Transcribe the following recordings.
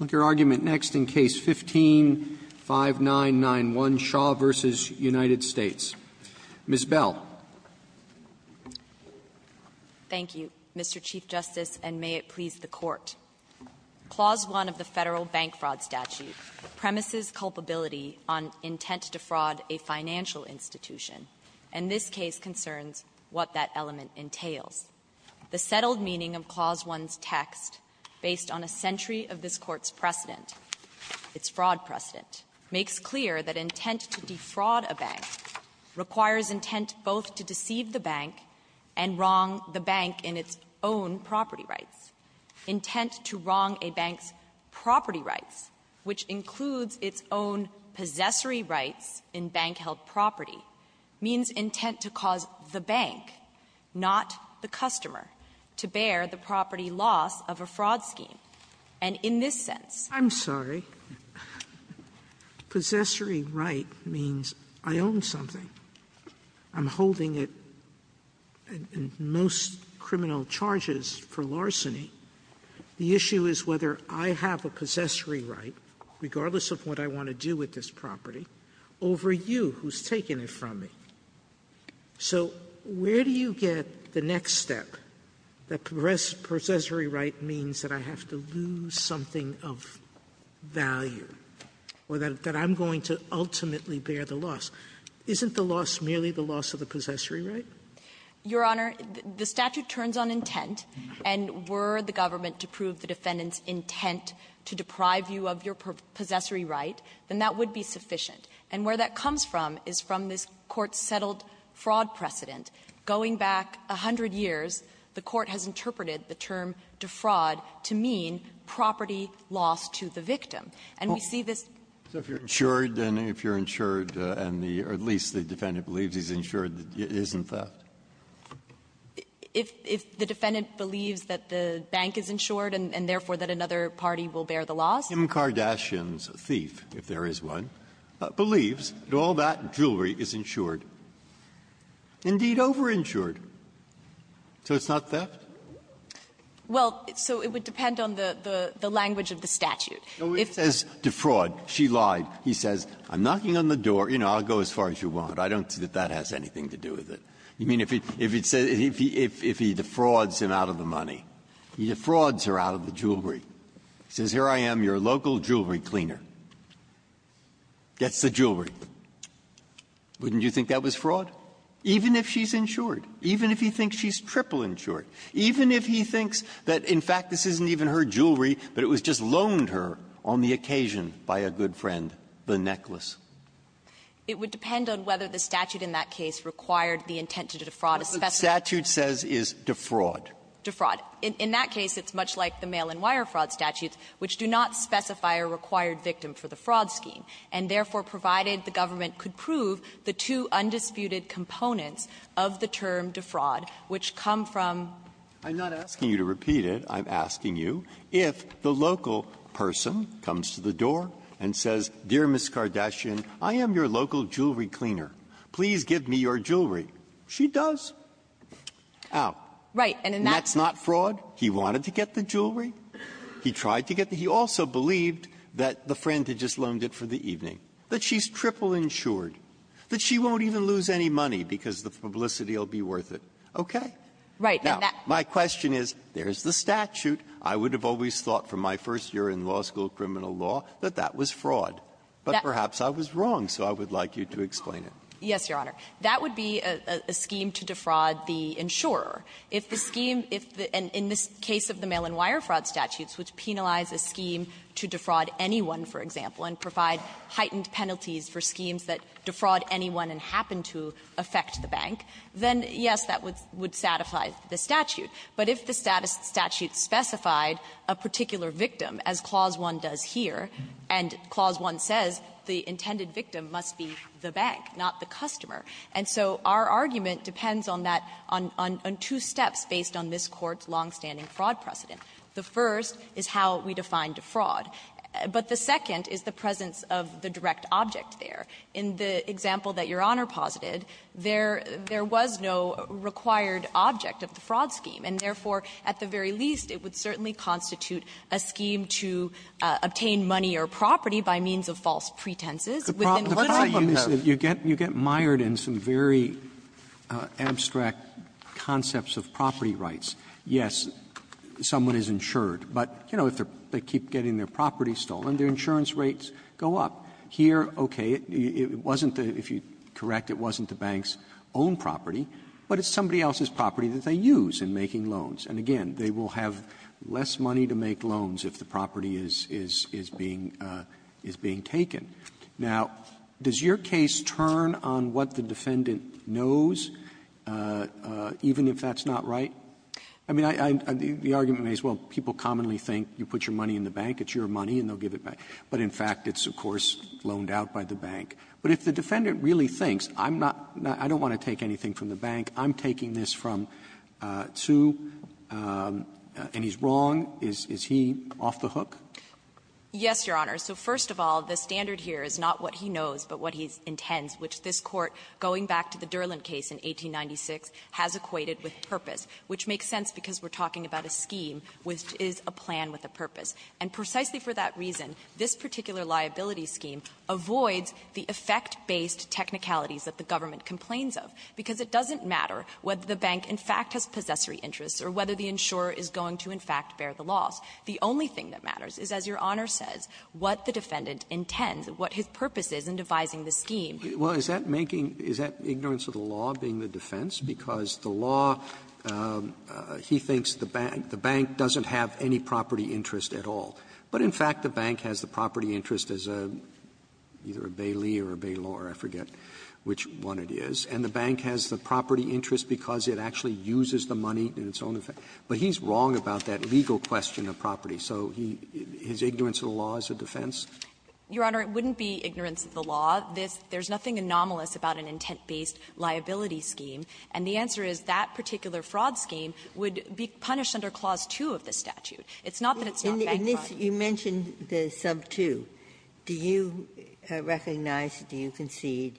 15-5991, Shaw v. United States. Ms. Bell. Thank you, Mr. Chief Justice, and may it please the Court. Clause 1 of the Federal Bank Fraud Statute premises culpability on intent to fraud a financial institution, and this case concerns what that element entails. The settled meaning of Clause 1's text, based on a century of this Court's precedent its fraud precedent, makes clear that intent to defraud a bank requires intent both to deceive the bank and wrong the bank in its own property rights. Intent to wrong a bank's property rights, which includes its own possessory rights in bank-held property, means intent to cause the bank, not the company, to deceive the customer, to bear the property loss of a fraud scheme. And in this sense, I'm sorry, possessory right means I own something. I'm holding it in most criminal charges for larceny. The issue is whether I have a possessory right, regardless of what I want to do with this property, over you, who's taking it from me. So where do you get the next step that possessory right means that I have to lose something of value, or that I'm going to ultimately bear the loss? Isn't the loss merely the loss of the possessory right? Your Honor, the statute turns on intent, and were the government to prove the defendant's intent to deprive you of your possessory right, then that would be sufficient. And where that comes from is from this Court-settled fraud precedent. Going back a hundred years, the Court has interpreted the term defraud to mean property loss to the victim. And we see this as a fraud. Breyer. So if you're insured, then if you're insured, and the or at least the defendant believes he's insured, isn't that? If the defendant believes that the bank is insured, and therefore that another party will bear the loss? Kim Kardashian's thief, if there is one, believes that all that jewelry is insured, indeed over-insured. So it's not theft? Well, so it would depend on the language of the statute. If it says defraud, she lied, he says, I'm knocking on the door, you know, I'll go as far as you want. I don't see that that has anything to do with it. You mean if he defrauds him out of the money? He defrauds her out of the jewelry. He says, here I am, your local jewelry cleaner, gets the jewelry. Wouldn't you think that was fraud? Even if she's insured. Even if he thinks she's triple insured. Even if he thinks that, in fact, this isn't even her jewelry, but it was just loaned her on the occasion by a good friend, the necklace. It would depend on whether the statute in that case required the intent to defraud a specific person. The statute says is defraud. Defraud. In that case, it's much like the mail-and-wire fraud statutes, which do not specify a required victim for the fraud scheme, and therefore provided the government could prove the two undisputed components of the term defraud, which come from the loan. Breyer, I'm not asking you to repeat it. I'm asking you if the local person comes to the door and says, dear Ms. Kardashian, I am your local jewelry cleaner. Please give me your jewelry. She does. How? Right. And that's not fraud. He wanted to get the jewelry. He tried to get the jewelry. He also believed that the friend had just loaned it for the evening, that she's triple insured, that she won't even lose any money because the publicity will be worth it. Okay? Now, my question is, there's the statute. I would have always thought from my first year in law school criminal law that that was fraud. But perhaps I was wrong, so I would like you to explain it. Yes, Your Honor. That would be a scheme to defraud the insurer. If the scheme, in this case of the mail-and-wire fraud statutes, which penalize a scheme to defraud anyone, for example, and provide heightened penalties for schemes that defraud anyone and happen to affect the bank, then, yes, that would satisfy the statute. But if the statute specified a particular victim, as Clause 1 does here, and Clause 1 says, the intended victim must be the bank, not the customer. And so our argument depends on that, on two steps based on this Court's longstanding fraud precedent. The first is how we define defraud. But the second is the presence of the direct object there. In the example that Your Honor posited, there was no required object of the fraud scheme, and therefore, at the very least, it would certainly constitute a scheme to obtain money or property by means of false pretenses. Within what scope of those? Roberts, you get mired in some very abstract concepts of property rights. Yes, someone is insured, but, you know, if they keep getting their property stolen, their insurance rates go up. Here, okay, it wasn't the – if you correct, it wasn't the bank's own property, but it's somebody else's property that they use in making loans. And, again, they will have less money to make loans if the property is – is being – is being taken. Now, does your case turn on what the defendant knows, even if that's not right? I mean, I – the argument may as well – people commonly think you put your money in the bank, it's your money, and they'll give it back. But, in fact, it's, of course, loaned out by the bank. But if the defendant really thinks, I'm not – I don't want to take anything from the bank. I'm taking this from Tsu, and he's wrong. Is – is he off the hook? Yes, Your Honor. So, first of all, the standard here is not what he knows, but what he intends, which this Court, going back to the Durland case in 1896, has equated with purpose, which makes sense because we're talking about a scheme which is a plan with a purpose. And precisely for that reason, this particular liability scheme avoids the effect-based technicalities that the government complains of, because it doesn't matter whether the bank, in fact, has possessory interests or whether the insurer is going to, in fact, bear the loss. The only thing that matters is, as Your Honor says, what the defendant intends, what his purpose is in devising the scheme. Well, is that making – is that ignorance of the law being the defense? Because the law – he thinks the bank doesn't have any property interest at all. But, in fact, the bank has the property interest as a – either a bailee or a bailor, I forget which one it is. And the bank has the property interest because it actually uses the money in its own effect. But he's wrong about that legal question of property. So he – his ignorance of the law is a defense? Your Honor, it wouldn't be ignorance of the law. There's nothing anomalous about an intent-based liability scheme. And the answer is that particular fraud scheme would be punished under Clause 2 of the statute. It's not that it's not bank fraud. Ginsburg. In this – you mentioned the sub 2. Do you recognize, do you concede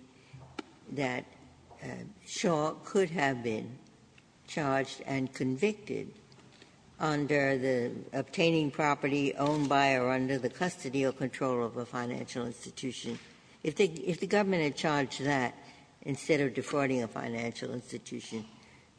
that Shaw could have been charged and convicted under the obtaining property owned by or under the custody or control of a financial institution? If the – if the government had charged that instead of defrauding a financial institution,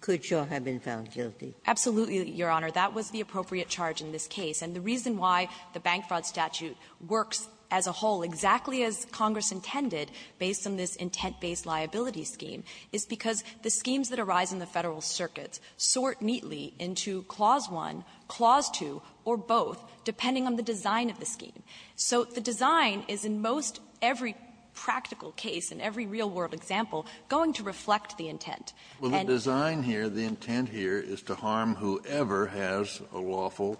could Shaw have been found guilty? Absolutely, Your Honor. That was the appropriate charge in this case. And the reason why the bank fraud statute works as a whole, exactly as Congress intended, based on this intent-based liability scheme, is because the schemes that arise in the Federal circuits sort neatly into Clause 1, Clause 2, or both, depending on the design of the scheme. So the design is in most every practical case, in every real-world example, going to reflect the intent. And the design here, the intent here, is to harm whoever has a lawful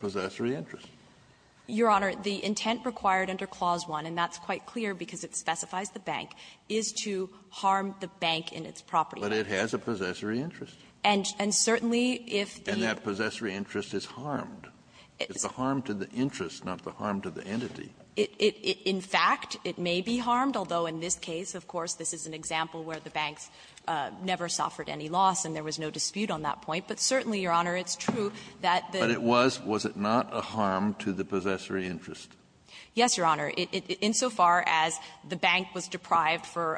possessory interest. Your Honor, the intent required under Clause 1, and that's quite clear because it specifies the bank, is to harm the bank in its property. But it has a possessory interest. And certainly, if the – And that possessory interest is harmed. It's the harm to the interest, not the harm to the entity. In fact, it may be harmed, although in this case, of course, this is an example where the banks never suffered any loss, and there was no dispute on that point. But certainly, Your Honor, it's true that the – But it was – was it not a harm to the possessory interest? Yes, Your Honor. Insofar as the bank was deprived for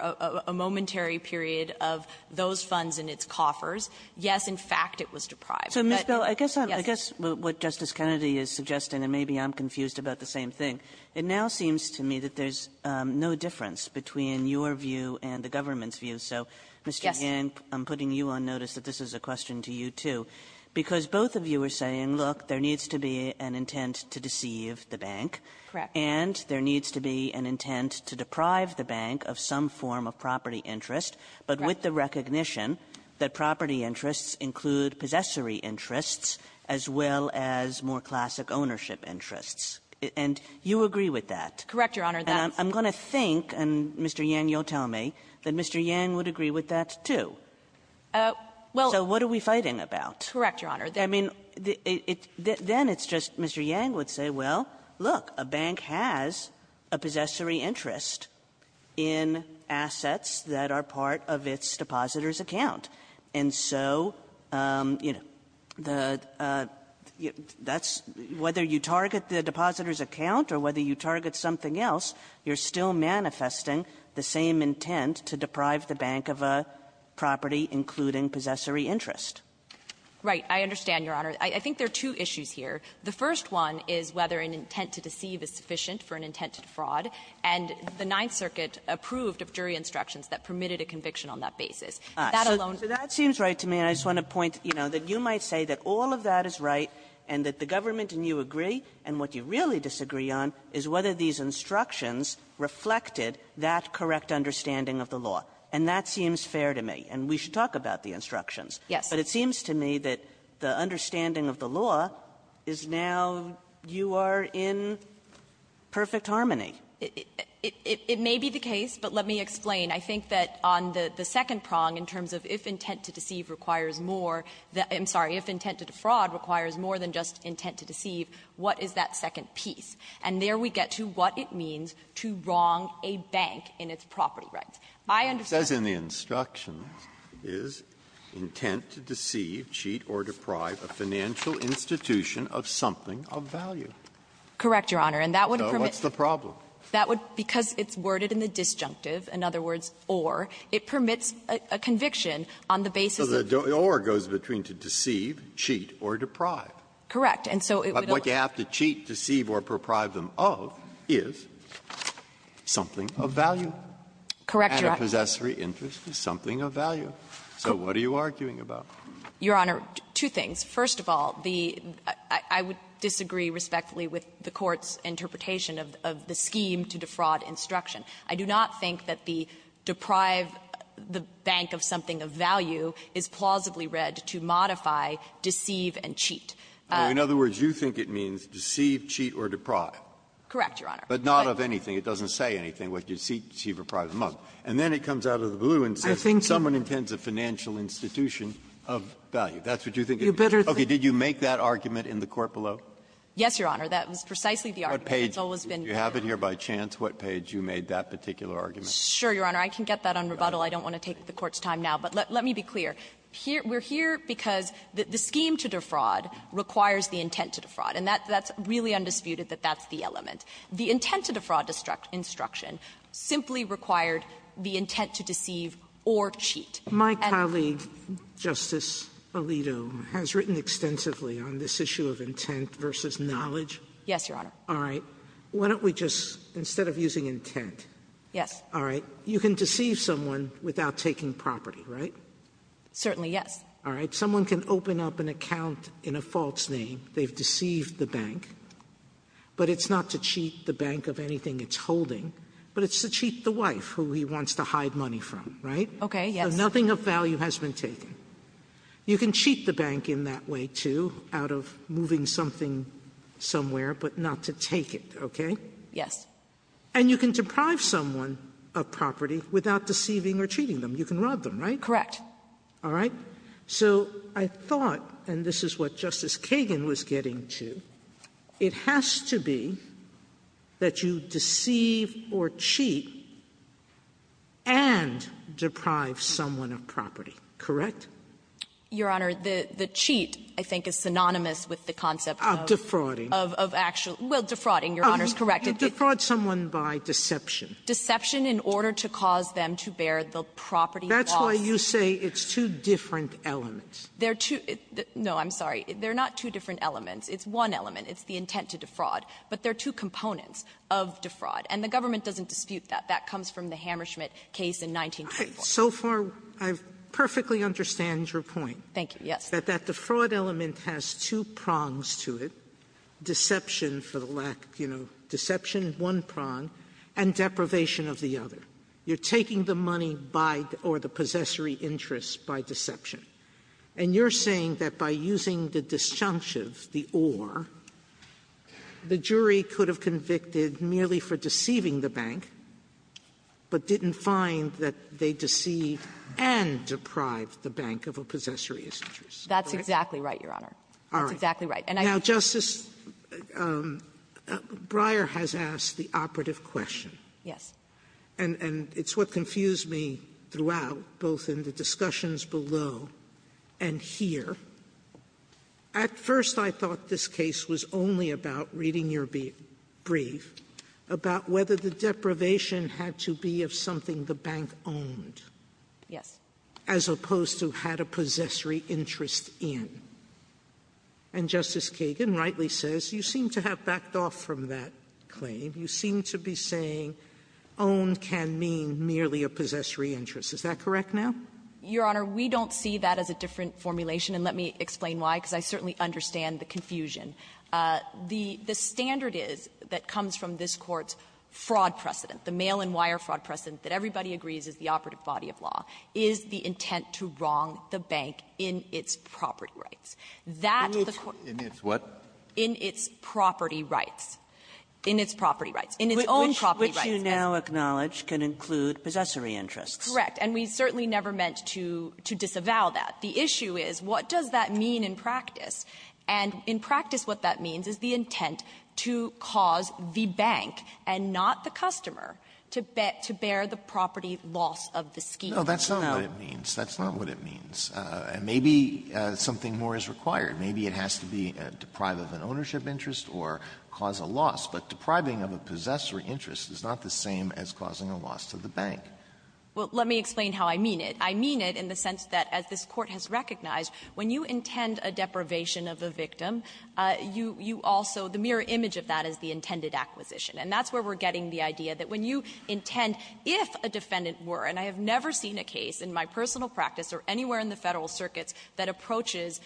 a momentary period of those funds in its coffers, yes, in fact, it was deprived. But – So, Ms. Bell, I guess I'm – Yes. I guess what Justice Kennedy is suggesting, and maybe I'm confused about the same thing, it now seems to me that there's no difference between your view and the government's view. So, Mr. Yang, I'm putting you on notice that this is a question to you, too, because both of you are saying, look, there needs to be an intent to deceive the bank. Correct. And there needs to be an intent to deprive the bank of some form of property interest, but with the recognition that property interests include possessory interests as well as more classic ownership interests. And you agree with that. Correct, Your Honor. And I'm going to think, and, Mr. Yang, you'll tell me, that Mr. Yang would agree with that, too. Well – So what are we fighting about? Correct, Your Honor. I mean, it's – then it's just Mr. Yang would say, well, look, a bank has a possessory interest in assets that are part of its depositor's account. And so, you know, the – that's – whether you target the depositor's account or whether you target something else, you're still manifesting the same intent to deprive the bank of a property including possessory interest. Right. I understand, Your Honor. I think there are two issues here. The first one is whether an intent to deceive is sufficient for an intent to defraud. And the Ninth Circuit approved of jury instructions that permitted a conviction on that basis. That alone – So that seems right to me. I just want to point, you know, that you might say that all of that is right and that the government and you agree, and what you really disagree on is whether these instructions reflected that correct understanding of the law. And that seems fair to me. And we should talk about the instructions. Yes. But it seems to me that the understanding of the law is now you are in perfect harmony. It may be the case, but let me explain. I think that on the second prong in terms of if intent to deceive requires more than – I'm sorry. If intent to defraud requires more than just intent to deceive, what is that second piece? And there we get to what it means to wrong a bank in its property rights. I understand – It says in the instructions, is intent to deceive, cheat, or deprive a financial institution of something of value. Correct, Your Honor. And that would permit – So what's the problem? That would – because it's worded in the disjunctive, in other words, or, it permits a conviction on the basis of – So the or goes between to deceive, cheat, or deprive. Correct. And so it would allow – But what you have to cheat, deceive, or deprive them of is something of value. Correct, Your Honor. And a possessory interest is something of value. So what are you arguing about? Your Honor, two things. First of all, the – I would disagree respectfully with the Court's interpretation of the scheme to defraud instruction. I do not think that the deprive the bank of something of value is plausibly read to modify, deceive, and cheat. In other words, you think it means deceive, cheat, or deprive. Correct, Your Honor. But not of anything. It doesn't say anything. It would be deceive, deceive, or deprive them of. And then it comes out of the blue and says someone intends a financial institution of value. That's what you think it means. You better think – Okay. Did you make that argument in the court below? Yes, Your Honor. That was precisely the argument. It's always been – Do you have it here by chance? What page you made that particular argument? Sure, Your Honor. I can get that on rebuttal. I don't want to take the Court's time now. But let me be clear. We're here because the scheme to defraud requires the intent to defraud. And that's really undisputed that that's the element. The intent to defraud instruction simply required the intent to deceive or cheat. My colleague, Justice Alito, has written extensively on this issue of intent versus knowledge. Yes, Your Honor. All right. Why don't we just – instead of using intent – Yes. All right. You can deceive someone without taking property, right? Certainly, yes. All right. Someone can open up an account in a false name. They've deceived the bank. But it's not to cheat the bank of anything it's holding. But it's to cheat the wife, who he wants to hide money from, right? Okay. Yes. So nothing of value has been taken. You can cheat the bank in that way, too, out of moving something somewhere, but not to take it, okay? Yes. And you can deprive someone of property without deceiving or cheating them. You can rob them, right? Correct. All right. So I thought – and this is what Justice Kagan was getting to – it has to be that you deceive or cheat and deprive someone of property, correct? Your Honor, the cheat, I think, is synonymous with the concept of – Of defrauding. Of actual – well, defrauding, Your Honor's correct. You defraud someone by deception. Deception in order to cause them to bear the property loss. That's why you say it's two different elements. They're two – no, I'm sorry. They're not two different elements. It's one element. It's the intent to defraud. But they're two components of defraud. And the government doesn't dispute that. That comes from the Hammerschmidt case in 1924. Sotomayor, so far I perfectly understand your point. Thank you. Yes. That the fraud element has two prongs to it, deception for the lack – you know, deception, one prong, and deprivation of the other. You're taking the money by – or the possessory interest by deception. And you're saying that by using the disjunctive, the or, the jury could have convicted merely for deceiving the bank, but didn't find that they deceived and deprived the bank of a possessory interest. That's exactly right, Your Honor. All right. That's exactly right. And I think that's the case. Now, Justice Breyer has asked the operative question. Yes. And it's what confused me throughout, both in the discussions below and here. At first, I thought this case was only about reading your brief about whether the deprivation had to be of something the bank owned. Yes. As opposed to had a possessory interest in. And Justice Kagan rightly says you seem to have backed off from that claim. You seem to be saying owned can mean merely a possessory interest. Is that correct now? Your Honor, we don't see that as a different formulation. And let me explain why, because I certainly understand the confusion. The standard is that comes from this Court's fraud precedent, the mail-and-wire fraud precedent that everybody agrees is the operative body of law, is the intent to wrong the bank in its property rights. That the Court — In its what? In its property rights. In its property rights. In its own property rights. Which you now acknowledge can include possessory interests. Correct. And we certainly never meant to disavow that. The issue is, what does that mean in practice? And in practice, what that means is the intent to cause the bank, and not the customer, to bear the property loss of the scheme. No. That's not what it means. That's not what it means. And maybe something more is required. Maybe it has to be deprive of an ownership interest or cause a loss. But depriving of a possessory interest is not the same as causing a loss to the bank. Well, let me explain how I mean it. I mean it in the sense that, as this Court has recognized, when you intend a deprivation of a victim, you also — the mirror image of that is the intended acquisition. And that's where we're getting the idea that when you intend, if a defendant were — and I have never seen a case in my personal practice or anywhere in the Federal circuits that approaches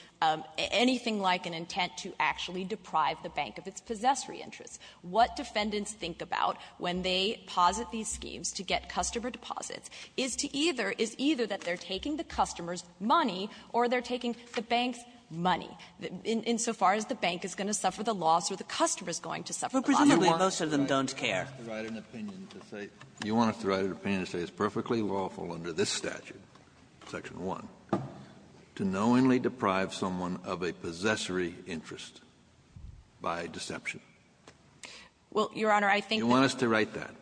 anything like an intent to actually deprive the bank of its possessory interests. What defendants think about when they posit these schemes to get customer deposits is to either — is either that they're taking the customer's money or they're taking the bank's money, insofar as the bank is going to suffer the loss or the customer is going to suffer the loss. But presumably, most of them don't care. You want us to write an opinion to say it's perfectly lawful under this statute, Section 1, to knowingly deprive someone of a possessory interest by deception? Well, Your Honor, I think that — You want us to write that?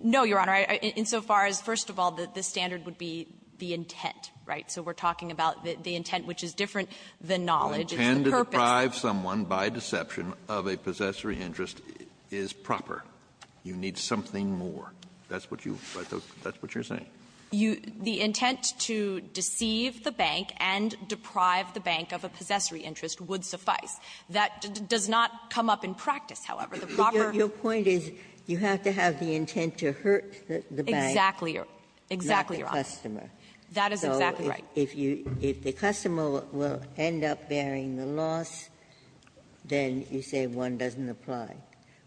No, Your Honor. Insofar as, first of all, the standard would be the intent, right? So we're talking about the intent, which is different than knowledge. It's the purpose. The intent to deprive someone by deception of a possessory interest is proper. You need something more. That's what you — that's what you're saying. You — the intent to deceive the bank and deprive the bank of a possessory That does not come up in practice, however. The proper — Your point is you have to have the intent to hurt the bank. Exactly. Exactly, Your Honor. Not the customer. That is exactly right. So if you — if the customer will end up bearing the loss, then you say one doesn't apply.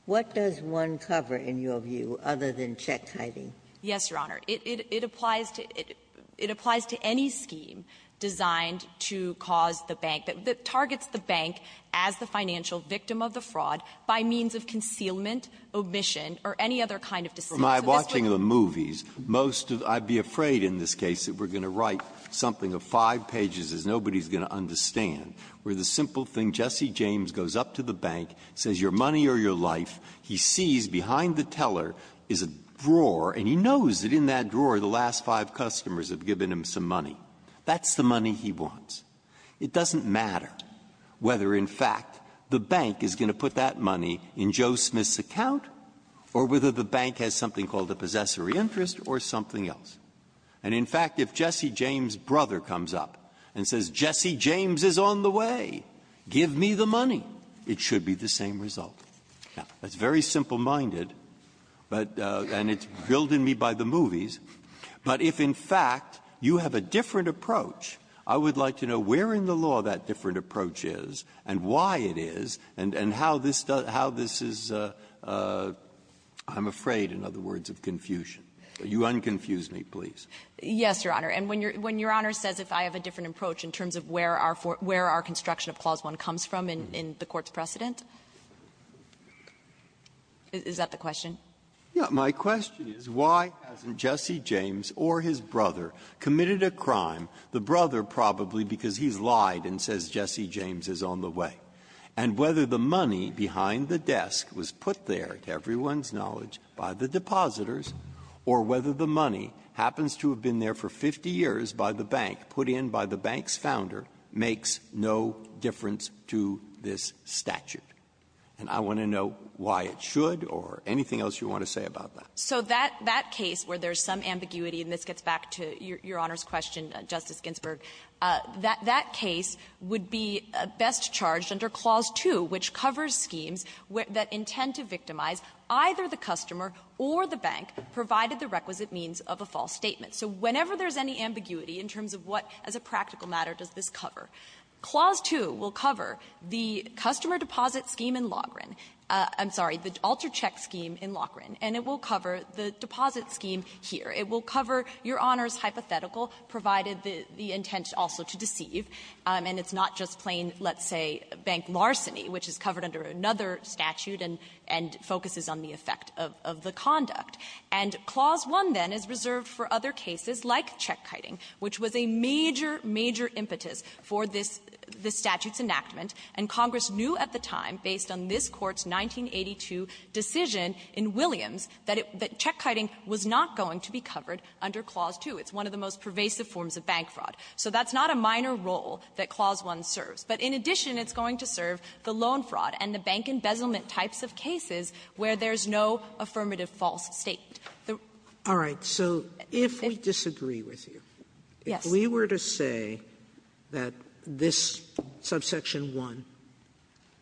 What does one cover, in your view, other than check hiding? Yes, Your Honor. It applies to — it applies to any scheme designed to cause the bank — that targets the bank as the financial victim of the fraud by means of concealment, omission, or any other kind of deceit. So this would be — By watching the movies, most of — I'd be afraid in this case that we're going to write something of five pages that nobody's going to understand, where the simple thing, Jesse James goes up to the bank, says, your money or your life. He sees behind the teller is a drawer, and he knows that in that drawer the last five customers have given him some money. That's the money he wants. It doesn't matter. Whether, in fact, the bank is going to put that money in Joe Smith's account or whether the bank has something called a possessory interest or something else. And, in fact, if Jesse James' brother comes up and says, Jesse James is on the way. Give me the money. It should be the same result. Now, that's very simple-minded, but — and it's drilled in me by the movies. But if, in fact, you have a different approach, I would like to know where in the law that different approach is, and why it is, and how this does — how this is — I'm afraid, in other words, of confusion. You un-confuse me, please. Yes, Your Honor. And when your — when Your Honor says if I have a different approach in terms of where our — where our construction of Clause 1 comes from in the Court's precedent, is that the question? Yeah. My question is, why hasn't Jesse James or his brother committed a crime? The brother, probably, because he's lied and says Jesse James is on the way. And whether the money behind the desk was put there, to everyone's knowledge, by the depositors, or whether the money happens to have been there for 50 years by the bank, put in by the bank's founder, makes no difference to this statute. And I want to know why it should or anything else you want to say about that. So that — that case where there's some ambiguity, and this gets back to Your Honor's question, Justice Ginsburg, that — that case would be best charged under Clause 2, which covers schemes that intend to victimize either the customer or the bank, provided the requisite means of a false statement. So whenever there's any ambiguity in terms of what, as a practical matter, does this cover, Clause 2 will cover the customer deposit scheme in Loughran — I'm sorry, the alter-check scheme in Loughran, and it will cover the deposit scheme here. It will cover Your Honor's hypothetical, provided the — the intent also to deceive. And it's not just plain, let's say, bank larceny, which is covered under another statute and — and focuses on the effect of — of the conduct. And Clause 1, then, is reserved for other cases like check-kiting, which was a major, major impetus for this — this statute's enactment. And Congress knew at the time, based on this 182 decision in Williams, that it — that check-kiting was not going to be covered under Clause 2. It's one of the most pervasive forms of bank fraud. So that's not a minor role that Clause 1 serves. But in addition, it's going to serve the loan fraud and the bank embezzlement types of cases where there's no affirmative false statement. The — Sotomayor, if we disagree with you, if we were to say that this subsection 1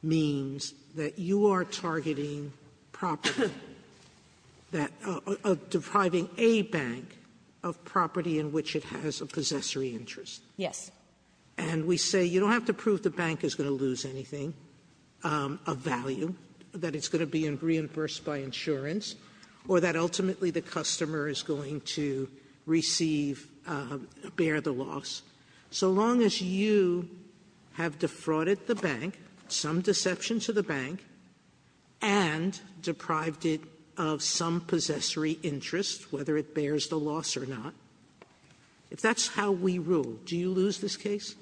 means that you are targeting property that — depriving a bank of property in which it has a possessory interest. Yes. And we say you don't have to prove the bank is going to lose anything of value, that it's going to be reimbursed by insurance, or that ultimately the customer is going to receive — bear the loss. So long as you have defrauded the bank, some deception to the bank, and deprived it of some possessory interest, whether it bears the loss or not, if that's how we rule, do you lose this case?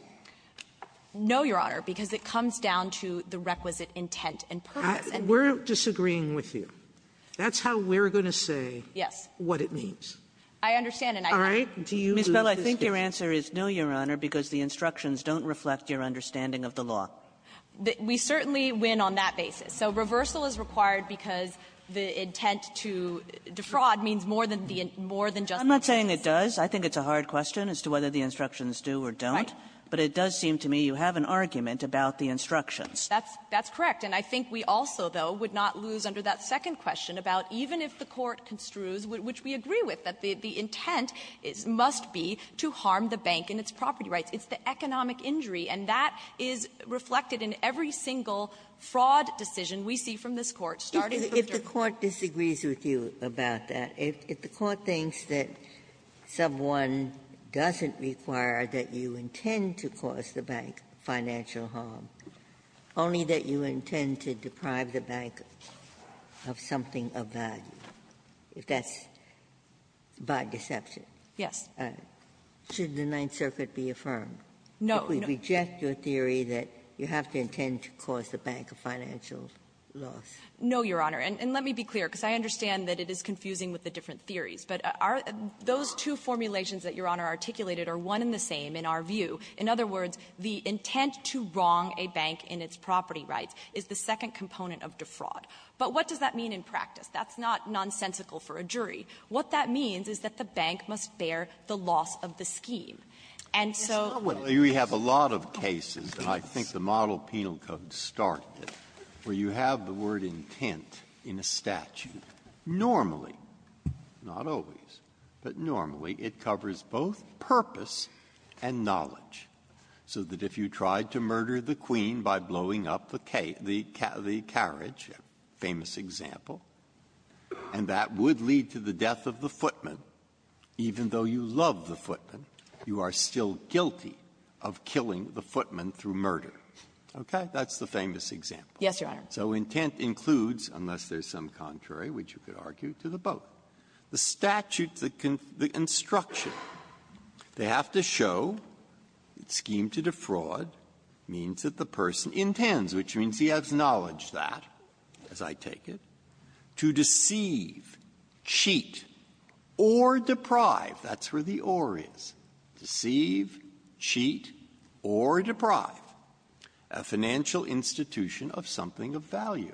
No, Your Honor, because it comes down to the requisite intent and purpose. And we're disagreeing with you. That's how we're going to say what it means. Yes. I understand. And I think — All right. Do you lose this case? Ms. Bell, I think your answer is no, Your Honor, because the instructions don't reflect your understanding of the law. We certainly win on that basis. So reversal is required because the intent to defraud means more than the — more than just the case. I'm not saying it does. I think it's a hard question as to whether the instructions do or don't. Right. But it does seem to me you have an argument about the instructions. That's — that's correct. And I think we also, though, would not lose under that second question about even if the Court construes, which we agree with, that the intent must be to harm the bank and its property rights. It's the economic injury. And that is reflected in every single fraud decision we see from this Court, starting with Dirk. Ginsburg. If the Court disagrees with you about that, if the Court thinks that sub one doesn't require that you intend to cause the bank financial harm, only that you intend to deprive the bank of something of value, if that's by deception. Yes. Sotomayor, should the Ninth Circuit be affirmed? No. If we reject your theory that you have to intend to cause the bank a financial loss? No, Your Honor. And let me be clear, because I understand that it is confusing with the different theories. But our — those two formulations that Your Honor articulated are one and the same in our view. In other words, the intent to wrong a bank in its property rights is the second component of defraud. But what does that mean in practice? That's not nonsensical for a jury. What that means is that the bank must bear the loss of the scheme. And so we have a lot of cases, and I think the Model Penal Code started it, where you have the word intent in a statute. Normally, not always, but normally, it covers both purpose and knowledge, so that if you tried to murder the queen by blowing up the carriage, famous example, and that would lead to the death of the footman, even though you love the footman, you are still guilty of killing the footman through murder. Okay? That's the famous example. Yes, Your Honor. So intent includes, unless there's some contrary which you could argue, to the both. The statute, the construction, they have to show that scheme to defraud means that the person intends, which means he has knowledge that, as I take it, to deceive, cheat, or deprive. That's where the or is. Deceive, cheat, or deprive a financial institution of something of value.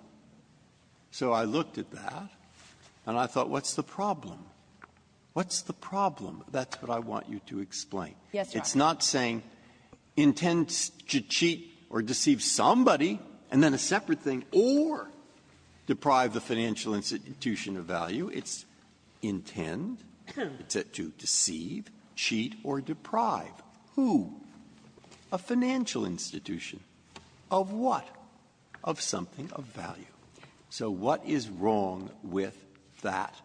So I looked at that, and I thought, what's the problem? What's the problem? Yes, Your Honor. It's not saying intend to cheat or deceive somebody, and then a separate thing. Or deprive the financial institution of value. It's intend to deceive, cheat, or deprive. Who? A financial institution. Of what? Of something of value. So what is wrong with that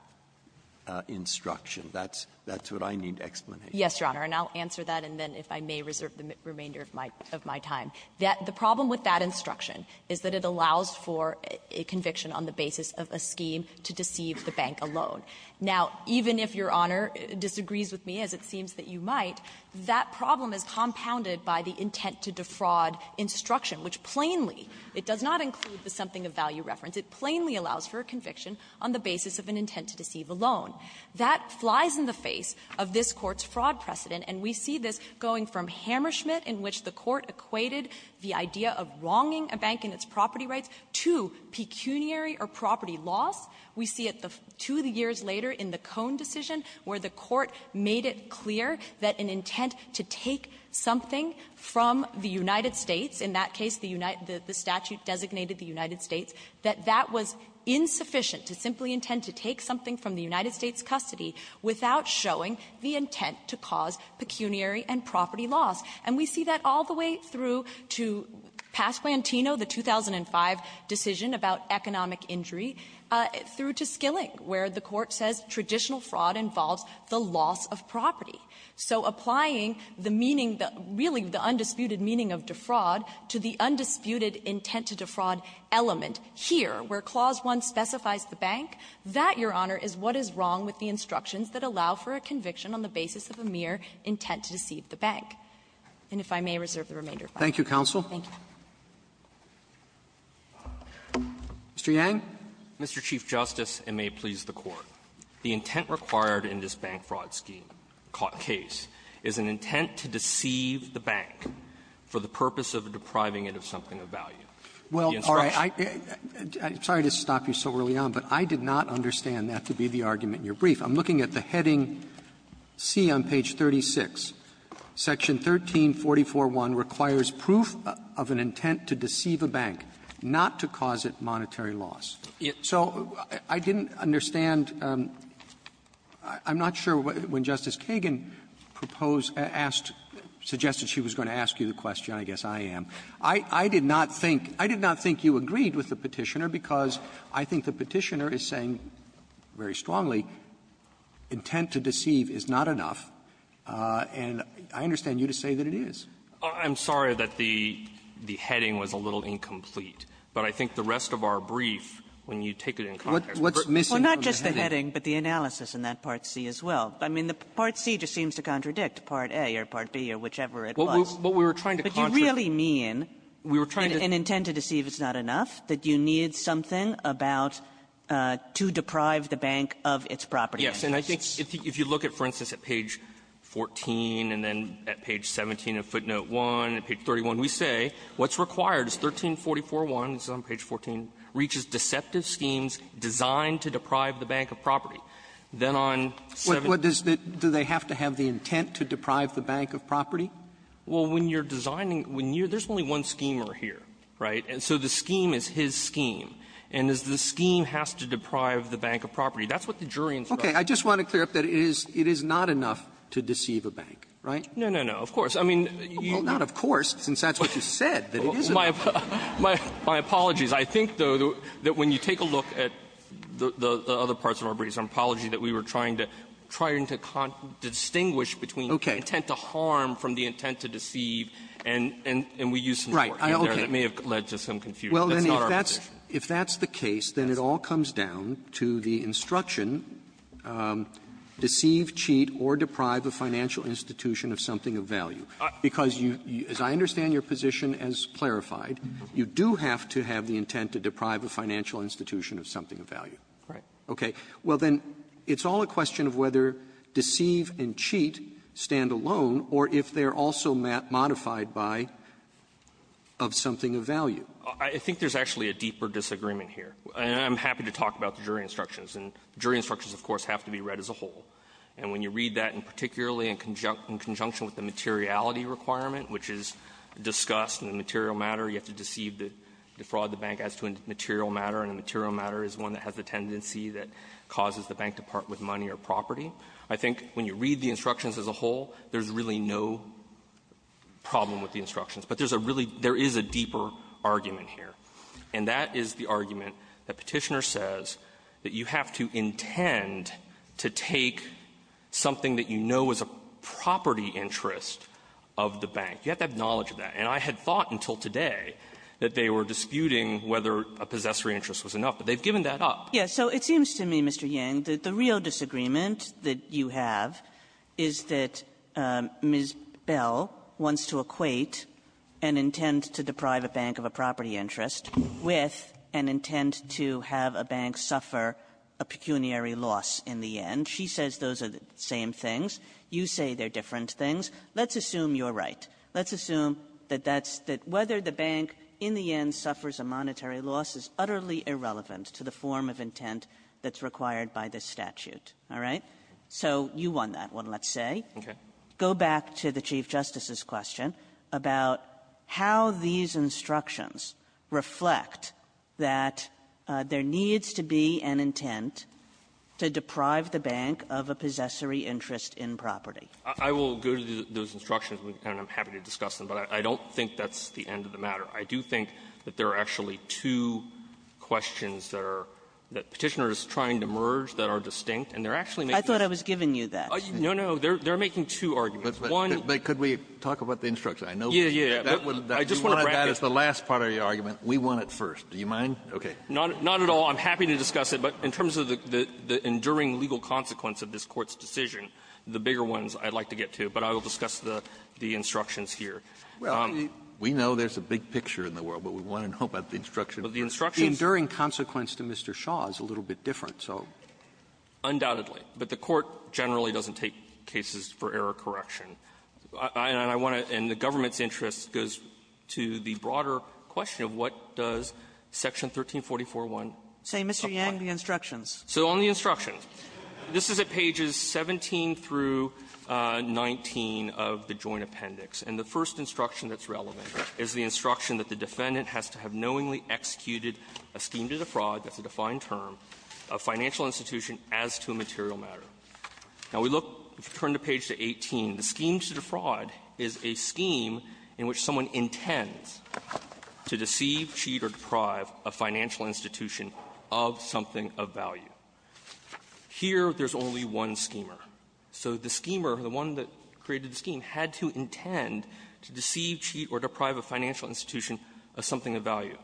instruction? That's what I need explanation for. Yes, Your Honor. And I'll answer that, and then if I may, reserve the remainder of my time. The problem with that instruction is that it allows for a conviction on the basis of a scheme to deceive the bank alone. Now, even if Your Honor disagrees with me, as it seems that you might, that problem is compounded by the intent to defraud instruction, which plainly, it does not include the something of value reference. It plainly allows for a conviction on the basis of an intent to deceive alone. That flies in the face of this Court's fraud precedent, and we see this going from Hammerschmidt, in which the Court equated the idea of wronging a bank in its property rights to pecuniary or property loss. We see it two years later in the Cone decision, where the Court made it clear that an intent to take something from the United States, in that case, the statute designated the United States, that that was insufficient to simply intend to take something from the United States' custody without showing the intent to cause pecuniary and property loss. And we see that all the way through to Pasquantino, the 2005 decision about economic injury, through to Skilling, where the Court says traditional fraud involves the loss of property. So applying the meaning, really the undisputed meaning of defraud, to the undisputed intent to defraud element here, where Clause 1 specifies the bank, that, Your Honor, is what is wrong with the instructions that allow for a conviction on the basis of a mere intent to deceive the bank. And if I may reserve the remainder of my time. Roberts. Thank you, counsel. Thank you. Mr. Yang. Mr. Chief Justice, and may it please the Court. The intent required in this bank fraud scheme caught case is an intent to deceive the bank for the purpose of depriving it of something of value. Well, all right. I'm sorry to stop you so early on, but I did not understand that to be the argument in your brief. I'm looking at the heading C on page 36, section 13441, requires proof of an intent to deceive a bank, not to cause it monetary loss. So I didn't understand. I'm not sure when Justice Kagan proposed, asked, suggested she was going to ask you the question, I guess I am. I did not think that the intent required I did not think you agreed with the Petitioner because I think the Petitioner is saying very strongly intent to deceive is not enough. And I understand you to say that it is. I'm sorry that the heading was a little incomplete. But I think the rest of our brief, when you take it in context, what's missing from the heading? Well, not just the heading, but the analysis in that part C as well. I mean, the part C just seems to contradict part A or part B or whichever it was. Kagan to deceive is not enough, that you need something about to deprive the bank of its property. Yes. And I think if you look at, for instance, at page 14 and then at page 17 of footnote 1, at page 31, we say what's required is 13441, this is on page 14, reaches deceptive schemes designed to deprive the bank of property. Then on 17 of footnote 1, we say what's required is 13441, this is on page 14, reaches deceptive schemes designed to deprive the bank of property. Well, when you're designing, when you're – there's only one schemer here, right? And so the scheme is his scheme. And as the scheme has to deprive the bank of property, that's what the jury instructs. Okay. I just want to clear up that it is not enough to deceive a bank, right? No, no, no. I mean, you need to be able to deceive a bank. Well, not of course, since that's what you said, that it isn't. Well, my apologies. I think, though, that when you take a look at the other parts of our briefs, I'm apologizing that we were trying to distinguish between the intent to harm from the intent to harm and the intent to deceive, and we used some words in there that may have led to some confusion. That's not our position. Well, then, if that's the case, then it all comes down to the instruction, deceive, cheat, or deprive a financial institution of something of value, because you – as I understand your position as clarified, you do have to have the intent to deprive a financial institution of something of value. Right. Okay. Well, then, it's all a question of whether deceive and cheat stand alone, or if they are also modified by, of something of value. I think there's actually a deeper disagreement here. And I'm happy to talk about the jury instructions. And jury instructions, of course, have to be read as a whole. And when you read that, and particularly in conjunction with the materiality requirement, which is discussed in the material matter, you have to deceive the – defraud the bank as to a material matter, and a material matter is one that has a tendency that causes the bank to part with money or property. I think when you read the instructions as a whole, there's really no problem with the instructions. But there's a really – there is a deeper argument here. And that is the argument that Petitioner says that you have to intend to take something that you know is a property interest of the bank. You have to have knowledge of that. And I had thought until today that they were disputing whether a possessory interest was enough. But they've given that up. Kagan. So it seems to me, Mr. Yang, that the real disagreement that you have is that Ms. Bell wants to equate an intent to deprive a bank of a property interest with an intent to have a bank suffer a pecuniary loss in the end. She says those are the same things. You say they're different things. Let's assume you're right. Let's assume that that's – that whether the bank in the end suffers a monetary loss is utterly irrelevant to the form of intent that's required by this statute. All right? So you won that one, let's say. Yang. Go back to the Chief Justice's question about how these instructions reflect that there needs to be an intent to deprive the bank of a possessory interest in property. Yang. I will go to those instructions, and I'm happy to discuss them. But I don't think that's the end of the matter. I do think that there are actually two questions that are – that Petitioner is trying to merge that are distinct, and they're actually making – I thought I was giving you that. No, no. They're making two arguments. One – But could we talk about the instruction? I know that – Yeah, yeah, yeah. That would – I just want to bracket. That is the last part of your argument. We want it first. Do you mind? Okay. Not at all. I'm happy to discuss it. But in terms of the enduring legal consequence of this Court's decision, the bigger ones I'd like to get to. But I will discuss the instructions here. Well, we know there's a big picture in the world, but we want to know about the instruction. But the instructions – The enduring consequence to Mr. Shaw is a little bit different, so. Undoubtedly. But the Court generally doesn't take cases for error correction. And I want to – and the government's interest goes to the broader question of what does Section 1344.1 – Say, Mr. Yang, the instructions. So on the instructions, this is at pages 17 through 19 of the Joint Appendix. And the first instruction that's relevant is the instruction that the defendant has to have knowingly executed a scheme to defraud – that's a defined term – a financial institution as to a material matter. Now, we look – if you turn the page to 18, the scheme to defraud is a scheme in which someone intends to deceive, cheat, or deprive a financial institution of something of value. Here, there's only one schemer. So the schemer, the one that created the scheme, had to intend to deceive, cheat, or deprive a financial institution of something of value.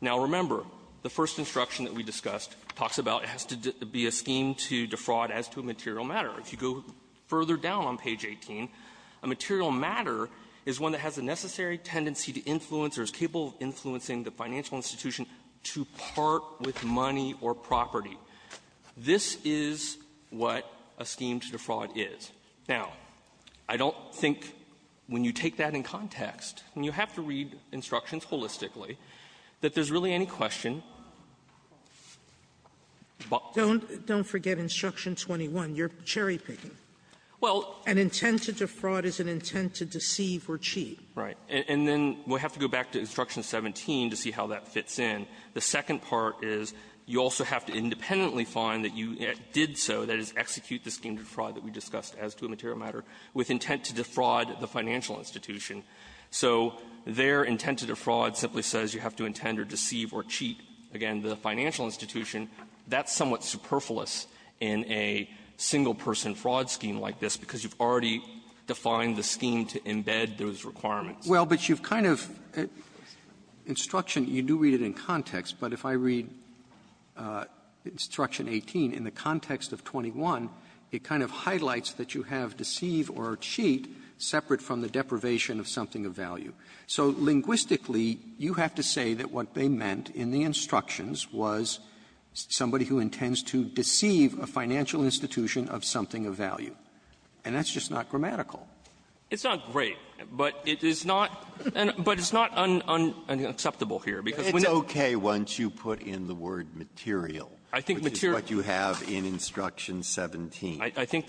Now, remember, the first instruction that we discussed talks about it has to be a scheme to defraud as to a material matter. If you go further down on page 18, a material matter is one that has a necessary tendency to influence or is capable of influencing the financial institution to part with money or property. This is what a scheme to defraud is. Now, I don't think, when you take that in context, and you have to read instructions holistically, that there's really any question. Sotomayor, don't forget Instruction 21. You're cherry-picking. Well — An intent to defraud is an intent to deceive or cheat. Right. And then we'll have to go back to Instruction 17 to see how that fits in. The second part is you also have to independently find that you did so, that is, execute a scheme to defraud the financial institution. So their intent to defraud simply says you have to intend or deceive or cheat, again, the financial institution. That's somewhat superfluous in a single-person fraud scheme like this, because you've already defined the scheme to embed those requirements. Well, but you've kind of — Instruction, you do read it in context. But if I read Instruction 18, in the context of 21, it kind of highlights that you have deceive or cheat separate from the deprivation of something of value. So linguistically, you have to say that what they meant in the instructions was somebody who intends to deceive a financial institution of something of value. And that's just not grammatical. It's not great, but it is not — but it's not unacceptable here, because when — It's okay once you put in the word material. I think material — I think that's what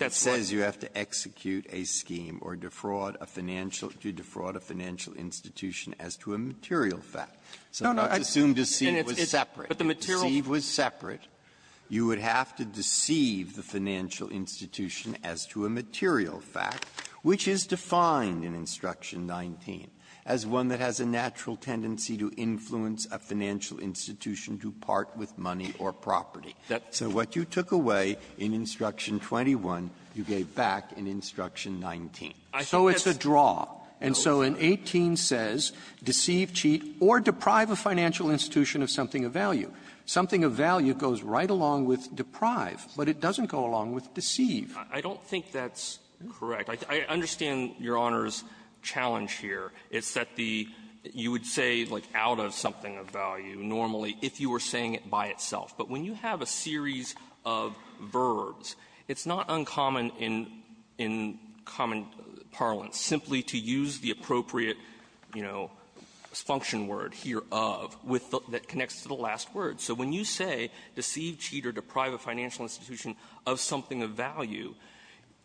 — It says you have to execute a scheme or defraud a financial — to defraud a financial institution as to a material fact. So it's assumed deceive was separate. But the material — If deceive was separate, you would have to deceive the financial institution as to a material fact, which is defined in Instruction 19 as one that has a natural tendency to influence a financial institution to part with money or property. That's — That's the one you gave back in Instruction 19. So it's a draw. And so in 18 says deceive, cheat, or deprive a financial institution of something of value. Something of value goes right along with deprive, but it doesn't go along with deceive. I don't think that's correct. I understand Your Honor's challenge here. It's that the — you would say, like, out of something of value normally if you were saying it by itself. But when you have a series of verbs, it's not uncommon in — in common parlance simply to use the appropriate, you know, function word here, of, with the — that connects to the last word. So when you say deceive, cheat, or deprive a financial institution of something of value,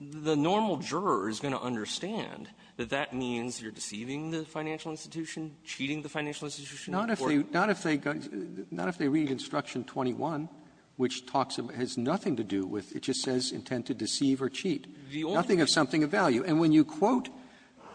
the normal juror is going to understand that that means you're deceiving the financial institution, cheating the financial institution, or — But the one which talks about — has nothing to do with — it just says intend to deceive or cheat. Nothing of something of value. And when you quote,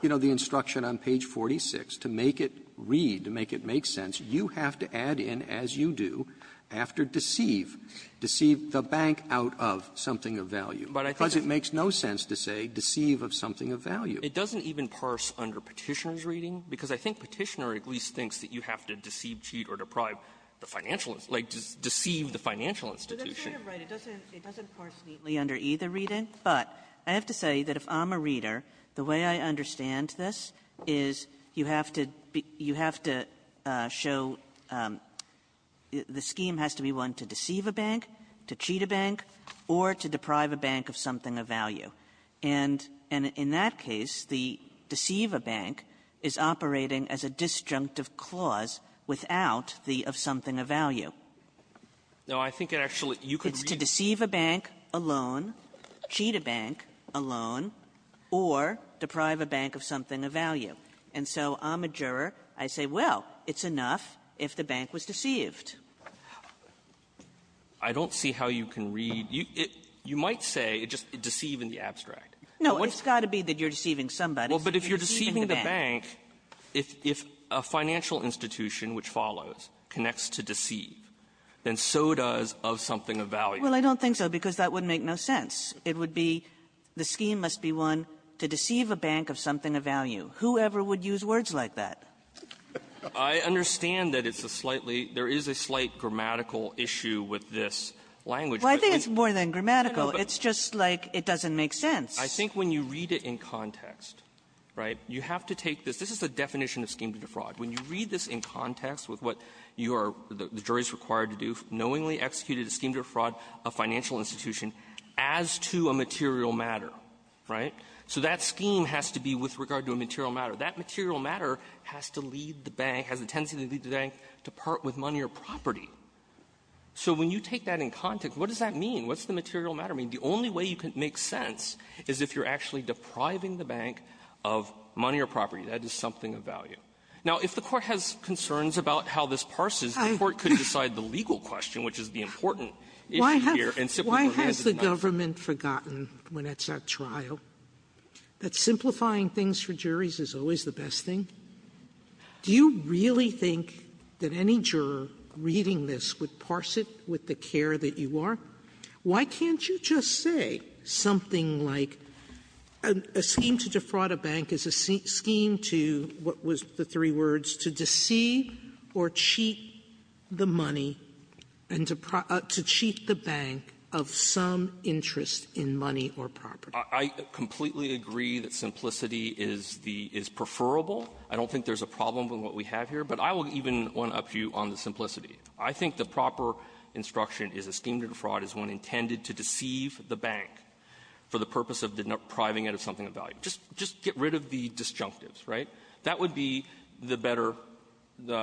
you know, the instruction on page 46 to make it read, to make it make sense, you have to add in, as you do, after deceive, deceive the bank out of something of value. Because it makes no sense to say deceive of something of value. It doesn't even parse under Petitioner's reading, because I think Petitioner at least thinks that you have to deceive, cheat, or deprive the financial — like, deceive the financial institution. Kagan, it doesn't parse neatly under either reading, but I have to say that if I'm a reader, the way I understand this is you have to — you have to show the scheme has to be one to deceive a bank, to cheat a bank, or to deprive a bank of something of value. And in that case, the deceive a bank is operating as a disjunctive clause without the of something of value. No, I think it actually — you could read — It's to deceive a bank, a loan, cheat a bank, a loan, or deprive a bank of something of value. And so I'm a juror. I say, well, it's enough if the bank was deceived. I don't see how you can read — you might say just deceive in the abstract. No, it's got to be that you're deceiving somebody. Well, but if you're deceiving the bank, if a financial institution, which follows, connects to deceive, then so does of something of value. Well, I don't think so, because that would make no sense. It would be the scheme must be one to deceive a bank of something of value. Whoever would use words like that? I understand that it's a slightly — there is a slight grammatical issue with this language. Well, I think it's more than grammatical. It's just like it doesn't make sense. I think when you read it in context, right, you have to take this. This is the definition of scheme to defraud. When you read this in context with what you are — the jury is required to do, knowingly executed a scheme to defraud a financial institution as to a material matter, right? So that scheme has to be with regard to a material matter. That material matter has to lead the bank, has a tendency to lead the bank to part with money or property. So when you take that in context, what does that mean? What's the material matter mean? The only way you can make sense is if you're actually depriving the bank of money or property. That is something of value. Now, if the Court has concerns about how this parses, the Court could decide the legal question, which is the important issue here, and simply — Sotomayor, why has the government forgotten, when it's at trial, that simplifying things for juries is always the best thing? Do you really think that any juror reading this would parse it with the care that you are? Why can't you just say something like, a scheme to defraud a bank is a scheme to what was previously called a scheme to defraud, just the three words, to deceive or cheat the money and to cheat the bank of some interest in money or property? I completely agree that simplicity is the — is preferable. I don't think there's a problem with what we have here. But I will even want to up you on the simplicity. I think the proper instruction is a scheme to defraud is one intended to deceive the bank for the purpose of depriving it of something of value. Just — just get rid of the disjunctives, right? That would be the better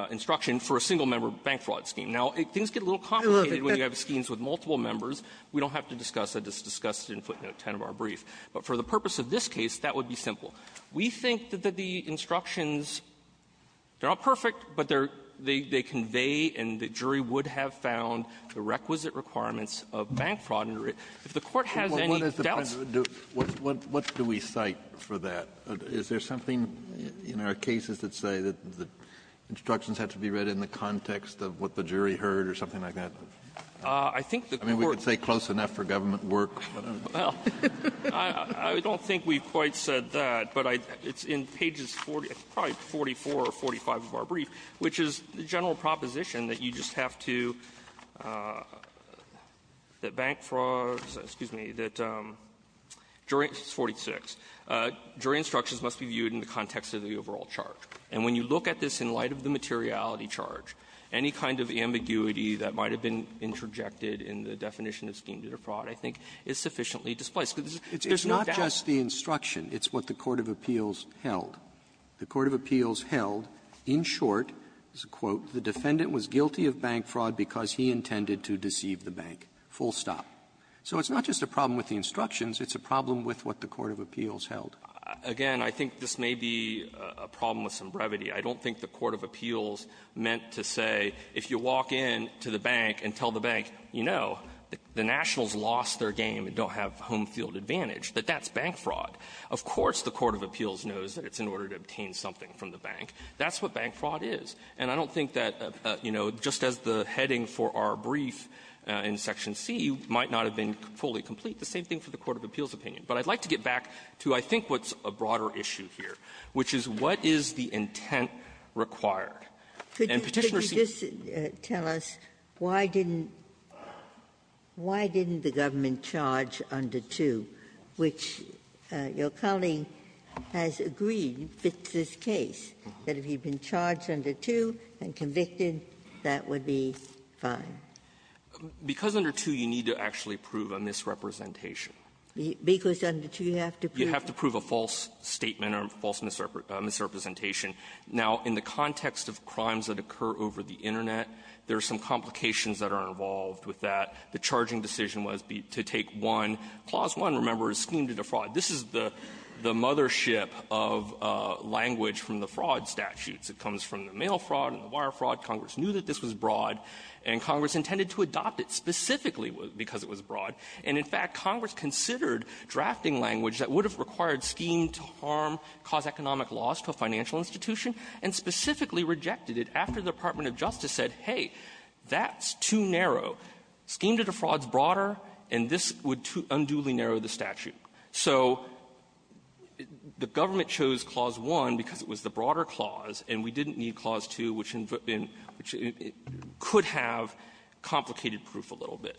instruction for a single-member bank fraud scheme. Now, things get a little complicated when you have schemes with multiple members. We don't have to discuss it. It's discussed in footnote 10 of our brief. But for the purpose of this case, that would be simple. We think that the instructions, they're not perfect, but they're — they convey and the jury would have found the requisite requirements of bank fraud. If the Court has any doubts — Is there something in our cases that say that the instructions have to be read in the context of what the jury heard or something like that? I think the Court — I mean, we could say close enough for government work, but I don't know. Well, I don't think we've quite said that, but I — it's in pages 40 — it's probably 44 or 45 of our brief, which is the general proposition that you just have to — that jury instructions must be viewed in the context of the overall charge. And when you look at this in light of the materiality charge, any kind of ambiguity that might have been interjected in the definition of scheme-dealer fraud, I think, is sufficiently displaced. There's no doubt. It's not just the instruction. It's what the court of appeals held. The court of appeals held, in short, as a quote, the defendant was guilty of bank fraud because he intended to deceive the bank, full stop. So it's not just a problem with the instructions. It's a problem with what the court of appeals held. Again, I think this may be a problem with some brevity. I don't think the court of appeals meant to say, if you walk in to the bank and tell the bank, you know, the Nationals lost their game and don't have home-field advantage, that that's bank fraud. Of course the court of appeals knows that it's in order to obtain something from the bank. That's what bank fraud is. And I don't think that, you know, just as the heading for our brief in Section C might not have been fully complete, the same thing for the court of appeals But I'd like to get back to I think what's a broader issue here, which is what is the intent required. And Petitioner's see you as a lawyer. Ginsburg. Could you just tell us why didn't the government charge under 2, which your colleague has agreed fits this case, that if he'd been charged under 2 and convicted, that would be fine? Because under 2, you need to actually prove a misrepresentation. Because under 2, you have to prove a false statement or a false misrepresentation. Now, in the context of crimes that occur over the Internet, there are some complications that are involved with that. The charging decision was to take one. Clause 1, remember, is scheme to defraud. This is the mother ship of language from the fraud statutes. It comes from the mail fraud and the wire fraud. Congress knew that this was broad, and Congress intended to adopt it specifically because it was broad. And in fact, Congress considered drafting language that would have required scheme to harm, cause economic loss to a financial institution, and specifically rejected it after the Department of Justice said, hey, that's too narrow. Scheme to defraud is broader, and this would unduly narrow the statute. So the government chose Clause 1 because it was the broader clause, and we didn't need Clause 2, which could have complicated proof a little bit.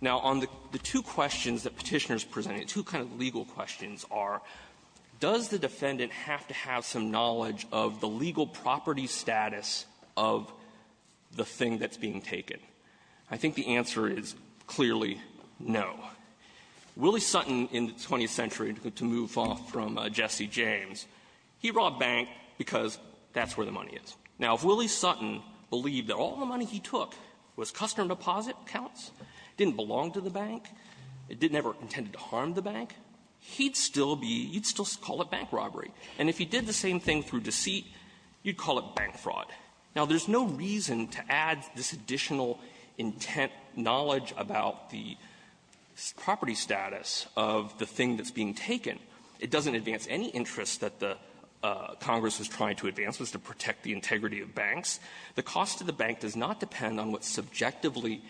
Now, on the two questions that Petitioner's presenting, two kind of legal questions are, does the defendant have to have some knowledge of the legal property status of the thing that's being taken? I think the answer is clearly no. Willie Sutton, in the 20th century, to move off from Jesse James, he robbed a bank because that's where the money is. Now, if Willie Sutton believed that all the money he took was customer deposit accounts, didn't belong to the bank, it didn't ever intend to harm the bank, he'd still be you'd still call it bank robbery. And if he did the same thing through deceit, you'd call it bank fraud. Now, there's no reason to add this additional intent knowledge about the property status of the thing that's being taken. It doesn't advance any interest that the Congress is trying to advance, which is to put subjectively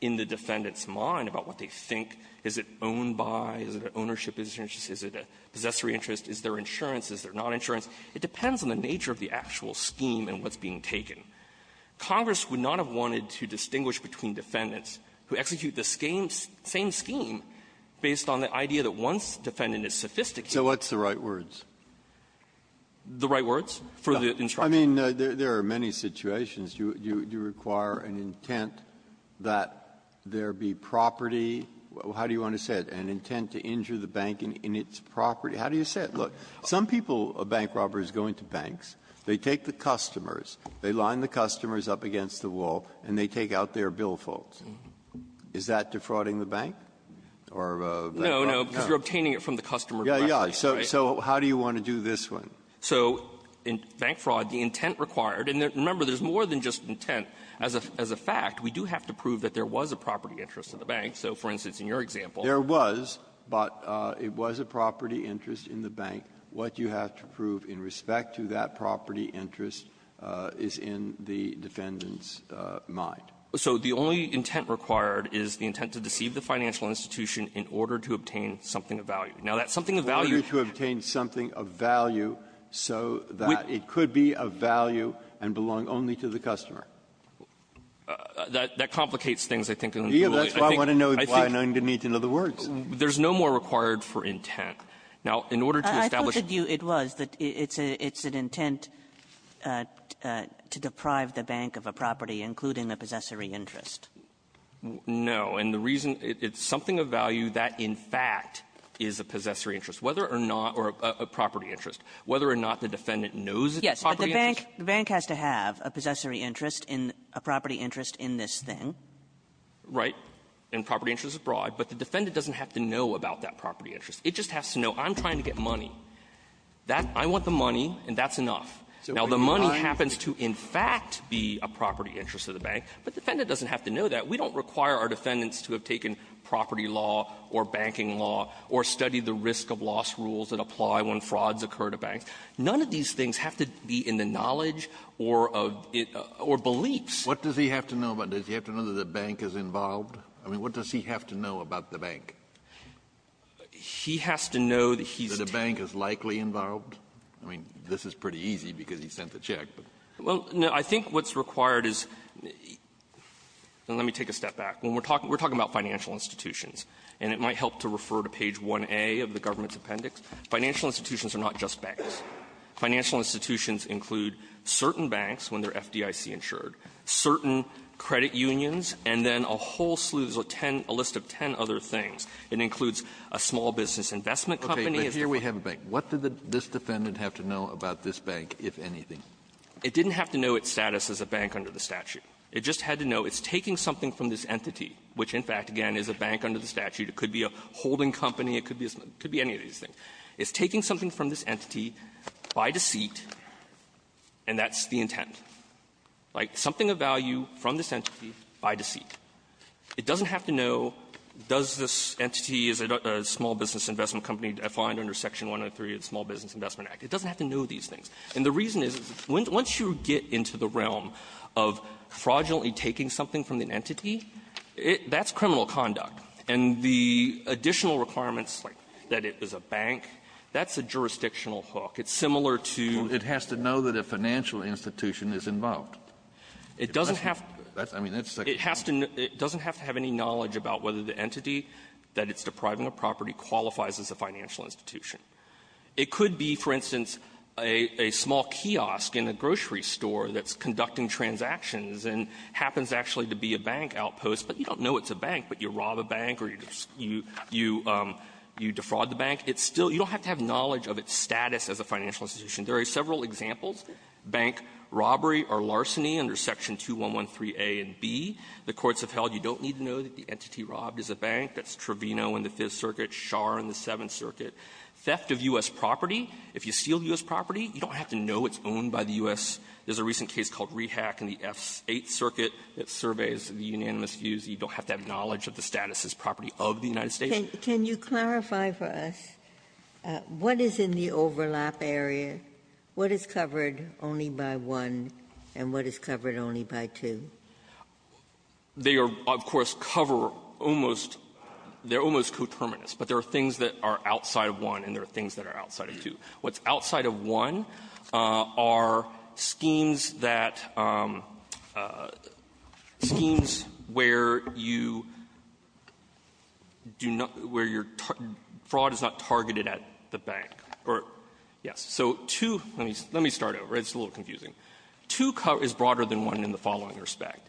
in the defendant's mind about what they think. Is it owned by? Is it an ownership? Is it a possessory interest? Is there insurance? Is there not insurance? It depends on the nature of the actual scheme and what's being taken. Congress would not have wanted to distinguish between defendants who execute the same scheme based on the idea that once the defendant is sophisticated the right words for the So you're saying that there was an intent that there be property. How do you want to say it? An intent to injure the bank in its property. How do you say it? Look, some people, bank robbers, go into banks. They take the customers. They line the customers up against the wall, and they take out their bill folds. Is that defrauding the bank or bank robbery? No, no, because you're obtaining it from the customer. Yeah, yeah. So how do you want to do this one? So in bank fraud, the intent required, and remember, there's more than just intent. As a fact, we do have to prove that there was a property interest in the bank. So, for instance, in your example — There was, but it was a property interest in the bank. What you have to prove in respect to that property interest is in the defendant's mind. So the only intent required is the intent to deceive the financial institution in order to obtain something of value. Now, that something of value — So that it could be of value and belong only to the customer. That — that complicates things, I think, in a good way. Yeah, that's why I want to know why, and I'm going to need to know the words. There's no more required for intent. Now, in order to establish — I thought that you — it was, that it's an intent to deprive the bank of a property, including a possessory interest. No. And the reason — it's something of value that, in fact, is a possessory interest. Whether or not — or a property interest. Whether or not the defendant knows it's a property interest. Yes, but the bank — the bank has to have a possessory interest in — a property interest in this thing. Right. And property interest is broad. But the defendant doesn't have to know about that property interest. It just has to know, I'm trying to get money. That — I want the money, and that's enough. Now, the money happens to, in fact, be a property interest of the bank, but the defendant doesn't have to know that. We don't require our defendants to have taken property law or banking law or studied the risk-of-loss rules that apply when frauds occur to banks. None of these things have to be in the knowledge or of — or beliefs. What does he have to know about it? Does he have to know that the bank is involved? I mean, what does he have to know about the bank? He has to know that he's — That a bank is likely involved? I mean, this is pretty easy because he sent the check, but — Well, no. I think what's required is — and let me take a step back. When we're talking — we're talking about financial institutions. And it might help to refer to page 1A of the government's appendix. Financial institutions are not just banks. Financial institutions include certain banks when they're FDIC-insured, certain credit unions, and then a whole slew of ten — a list of ten other things. It includes a small business investment company. Okay. But here we have a bank. What did this defendant have to know about this bank, if anything? It didn't have to know its status as a bank under the statute. It just had to know it's taking something from this entity, which, in fact, again, is a bank under the statute. It could be a holding company. It could be any of these things. It's taking something from this entity by deceit, and that's the intent. Like, something of value from this entity by deceit. It doesn't have to know, does this entity, is it a small business investment company defined under Section 103 of the Small Business Investment Act? It doesn't have to know these things. And the reason is, once you get into the realm of fraudulently taking something from an entity, it — that's criminal conduct. And the additional requirements, like that it was a bank, that's a jurisdictional hook. It's similar to — It has to know that a financial institution is involved. It doesn't have — That's — I mean, that's — It has to know — it doesn't have to have any knowledge about whether the entity that it's depriving a property qualifies as a financial institution. It could be, for instance, a — a small kiosk in a grocery store that's conducting transactions and happens actually to be a bank outpost. But you don't know it's a bank, but you rob a bank or you defraud the bank. It's still — you don't have to have knowledge of its status as a financial institution. There are several examples, bank robbery or larceny under Section 2113a and b. The courts have held you don't need to know that the entity robbed is a bank. That's Trevino in the Fifth Circuit, Schar in the Seventh Circuit. Theft of U.S. property. If you steal U.S. property, you don't have to know it's owned by the U.S. There's a recent case called Rehack in the Eighth Circuit that surveys the unanimous views. You don't have to have knowledge of the status as property of the United States. Ginsburg. Can you clarify for us what is in the overlap area, what is covered only by one, and what is covered only by two? They are, of course, cover almost — they're almost coterminous. But there are things that are outside of one, and there are things that are outside of two. What's outside of one are schemes that — schemes where you do not — where you're — fraud is not targeted at the bank, or — yes. So two — let me start over. It's a little confusing. Two is broader than one in the following respect.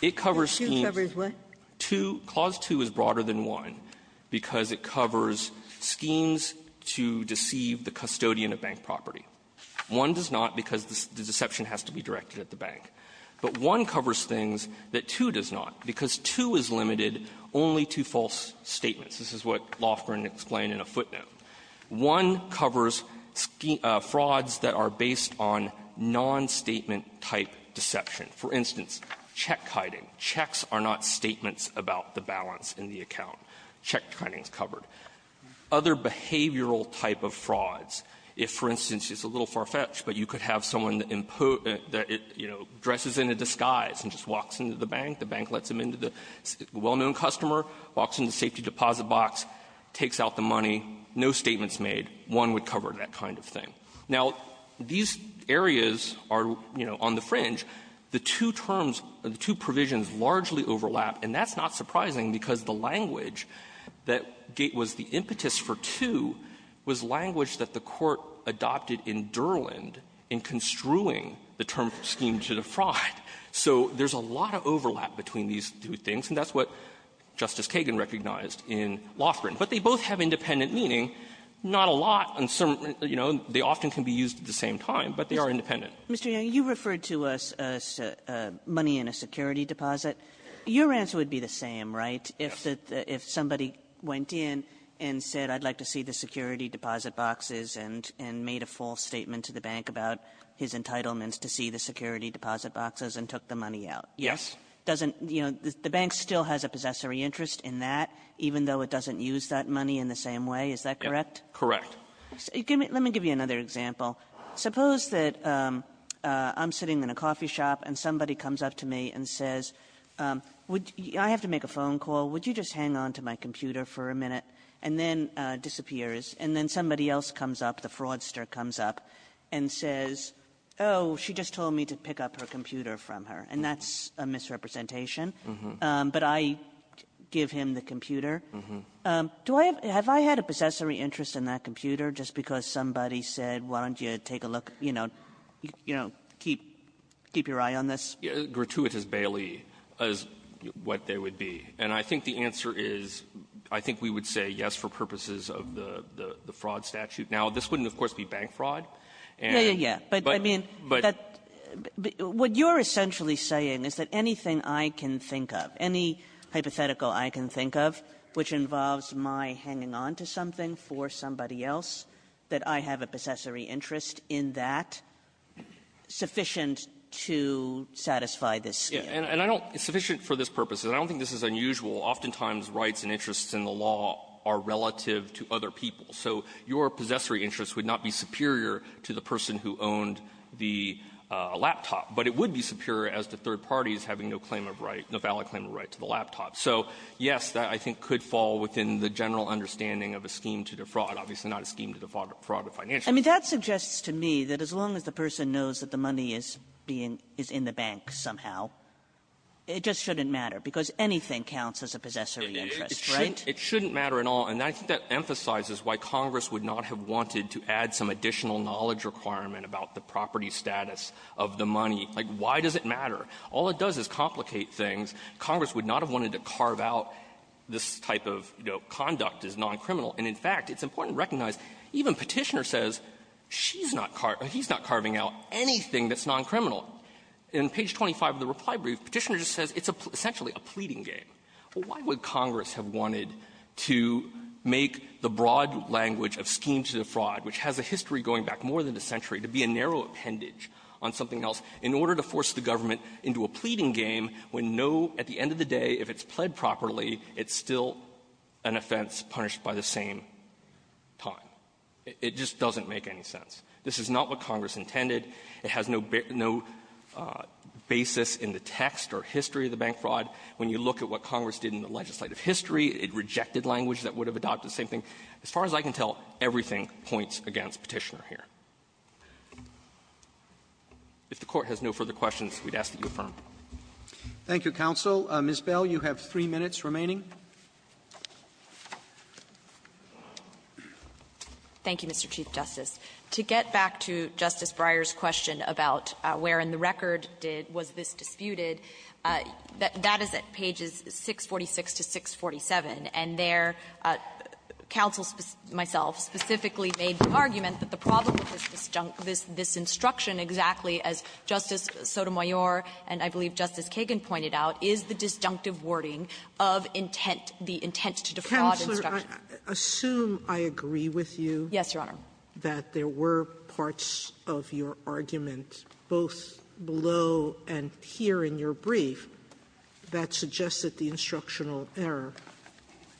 It covers schemes — Two covers what? Two — clause two is broader than one because it covers schemes to deceive the custodian of bank property. One does not because the deception has to be directed at the bank. But one covers things that two does not because two is limited only to false statements. This is what Lofgren explained in a footnote. One covers frauds that are based on nonstatement-type deception. For instance, check-kiting. Checks are not statements about the balance in the account. Check-kiting is covered. Other behavioral type of frauds, if, for instance, it's a little far-fetched, but you could have someone that, you know, dresses in a disguise and just walks into the bank, the bank lets them into the well-known customer, walks into the safety deposit box, takes out the money, no statements made, one would cover that kind of thing. Now, these areas are, you know, on the fringe and the two terms or the two provisions largely overlap. And that's not surprising because the language that was the impetus for two was language that the Court adopted in Durland in construing the term scheme to defraud. So there's a lot of overlap between these two things, and that's what Justice Kagan recognized in Lofgren. But they both have independent meaning. Not a lot. And some, you know, they often can be used at the same time, but they are independent. Kagan. KAGAN. Mr. Young, you referred to a money in a security deposit. Your answer would be the same, right? Young. If the ---- Young. If somebody went in and said I'd like to see the security deposit boxes and made a false statement to the bank about his entitlements to see the security deposit boxes and took the money out. Young. Doesn't the bank still have possessory interest in that, even though it doesn't use that money in the same way, correct? Correct. Let me give you another example. Suppose that I'm sitting in a coffee shop and somebody comes up to me and says, I have to make a phone call. Would you just hang on to my computer for a minute, and then disappears. And then somebody else comes up, the fraudster comes up, and says, oh, she just told me to pick up her computer from her, and that's a misrepresentation. But I give him the computer. Do I have ---- have I had a possessory interest in that computer just because somebody said, why don't you take a look, you know, keep your eye on this? Gratuitous Bailey is what they would be. And I think the answer is, I think we would say yes for purposes of the fraud statute. Now, this wouldn't, of course, be bank fraud. And ---- Yeah, yeah, yeah. But I mean, that ---- But ---- But what you're essentially saying is that anything I can think of, any hypothetical I can think of, which involves my hanging on to something for somebody else, that I have a possessory interest in that, sufficient to satisfy this scheme. And I don't ---- it's sufficient for this purpose. And I don't think this is unusual. Oftentimes, rights and interests in the law are relative to other people. So your possessory interest would not be superior to the person who owned the laptop, but it would be superior as to third parties having no claim of right, no valid claim of right to the laptop. So, yes, that I think could fall within the general understanding of a scheme to defraud. Obviously, not a scheme to defraud a financial ---- I mean, that suggests to me that as long as the person knows that the money is being ---- is in the bank somehow, it just shouldn't matter, because anything counts as a possessory interest, right? It shouldn't matter at all. And I think that emphasizes why Congress would not have wanted to add some additional knowledge requirement about the property status of the money. Like, why does it matter? All it does is complicate things. Congress would not have wanted to carve out this type of, you know, conduct as non-criminal. And, in fact, it's important to recognize, even Petitioner says she's not ---- he's not carving out anything that's non-criminal. In page 25 of the reply brief, Petitioner just says it's essentially a pleading game. Why would Congress have wanted to make the broad language of schemes to defraud, which has a history going back more than a century, to be a narrow appendage on something else, in order to force the government into a pleading game when no ---- at the end of the day, if it's pled properly, it's still an offense punished by the same time? It just doesn't make any sense. This is not what Congress intended. It has no basis in the text or history of the bank fraud. When you look at what Congress did in the legislative history, it rejected language that would have adopted the same thing. As far as I can tell, everything points against Petitioner here. If the Court has no further questions, we'd ask that you affirm. Roberts. Thank you, counsel. Ms. Bell, you have three minutes remaining. Bell. Thank you, Mr. Chief Justice. To get back to Justice Breyer's question about where in the record did ---- was this disputed, that is at pages 646 to 647. And there, counsel, myself, specifically made the argument that the problem with this disjunct ---- this instruction, exactly as Justice Sotomayor and I believe Justice Kagan pointed out, is the disjunctive wording of intent, the intent to defraud instruction. Sotomayor, assume I agree with you that there were parts of your argument, both below and here in your brief, that suggested the instructional error.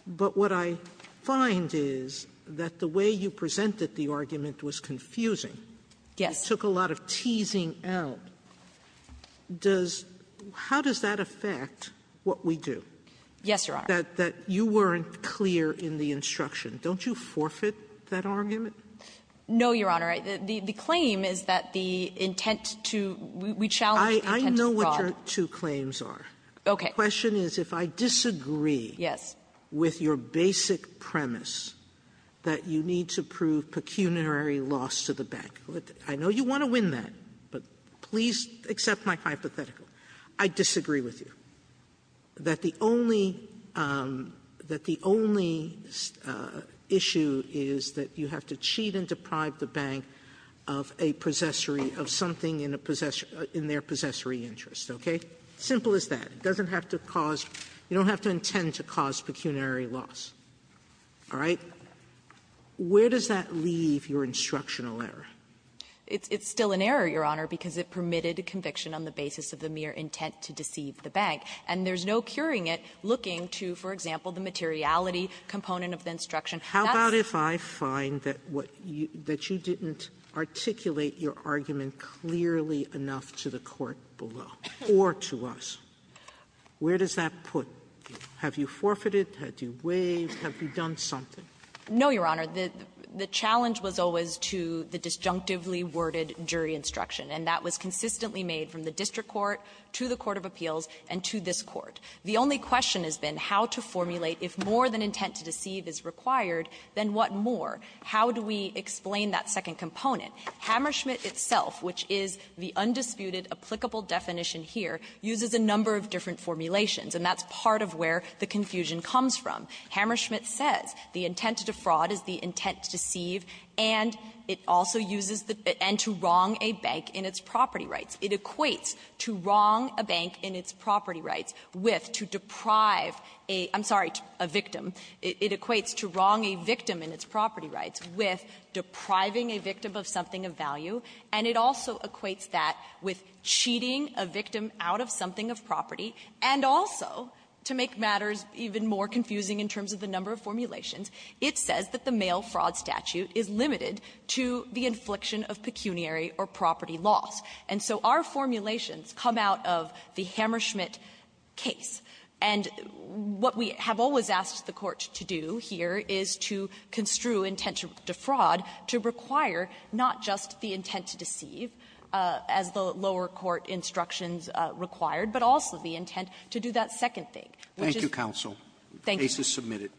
But what I find is that the way you presented the argument was confusing. Yes. You took a lot of teasing out. Does ---- how does that affect what we do? Yes, Your Honor. That you weren't clear in the instruction. Don't you forfeit that argument? No, Your Honor. The claim is that the intent to ---- we challenge the intent to fraud. I know what your two claims are. Okay. The question is if I disagree with your basic premise that you need to prove pecuniary loss to the bank. I know you want to win that, but please accept my hypothetical. I disagree with you that the only issue is that you have to cheat and deprive the bank of a possessory of something in a possessory ---- in their possessory interest, okay? Simple as that. It doesn't have to cause ---- you don't have to intend to cause pecuniary loss. All right? Where does that leave your instructional error? It's still an error, Your Honor, because it permitted conviction on the basis of the mere intent to deceive the bank. And there's no curing it looking to, for example, the materiality component of the instruction. How about if I find that what you ---- that you didn't articulate your argument clearly enough to the court below or to us? Where does that put you? Have you forfeited? Have you waived? Have you done something? No, Your Honor. The challenge was always to the disjunctively worded jury instruction. And that was consistently made from the district court to the court of appeals and to this court. The only question has been how to formulate if more than intent to deceive is required, then what more? How do we explain that second component? Hammerschmidt itself, which is the undisputed, applicable definition here, uses a number of different formulations, and that's part of where the confusion comes from. Hammerschmidt says the intent to defraud is the intent to deceive, and it also uses the ---- and to wrong a bank in its property rights. It equates to wrong a bank in its property rights with, to deprive a ---- I'm sorry, a victim. It equates to wrong a victim in its property rights with depriving a victim of something of value. And it also equates that with cheating a victim out of something of property. And also, to make matters even more confusing in terms of the number of formulations, it says that the mail fraud statute is limited to the infliction of pecuniary or property loss. And so our formulations come out of the Hammerschmidt case. And what we have always asked the Court to do here is to construe intent to defraud to require not just the intent to deceive as the lower court instructions required, but also the intent to do that second thing, which is ---- Robertson, Thank you, counsel. The case is submitted.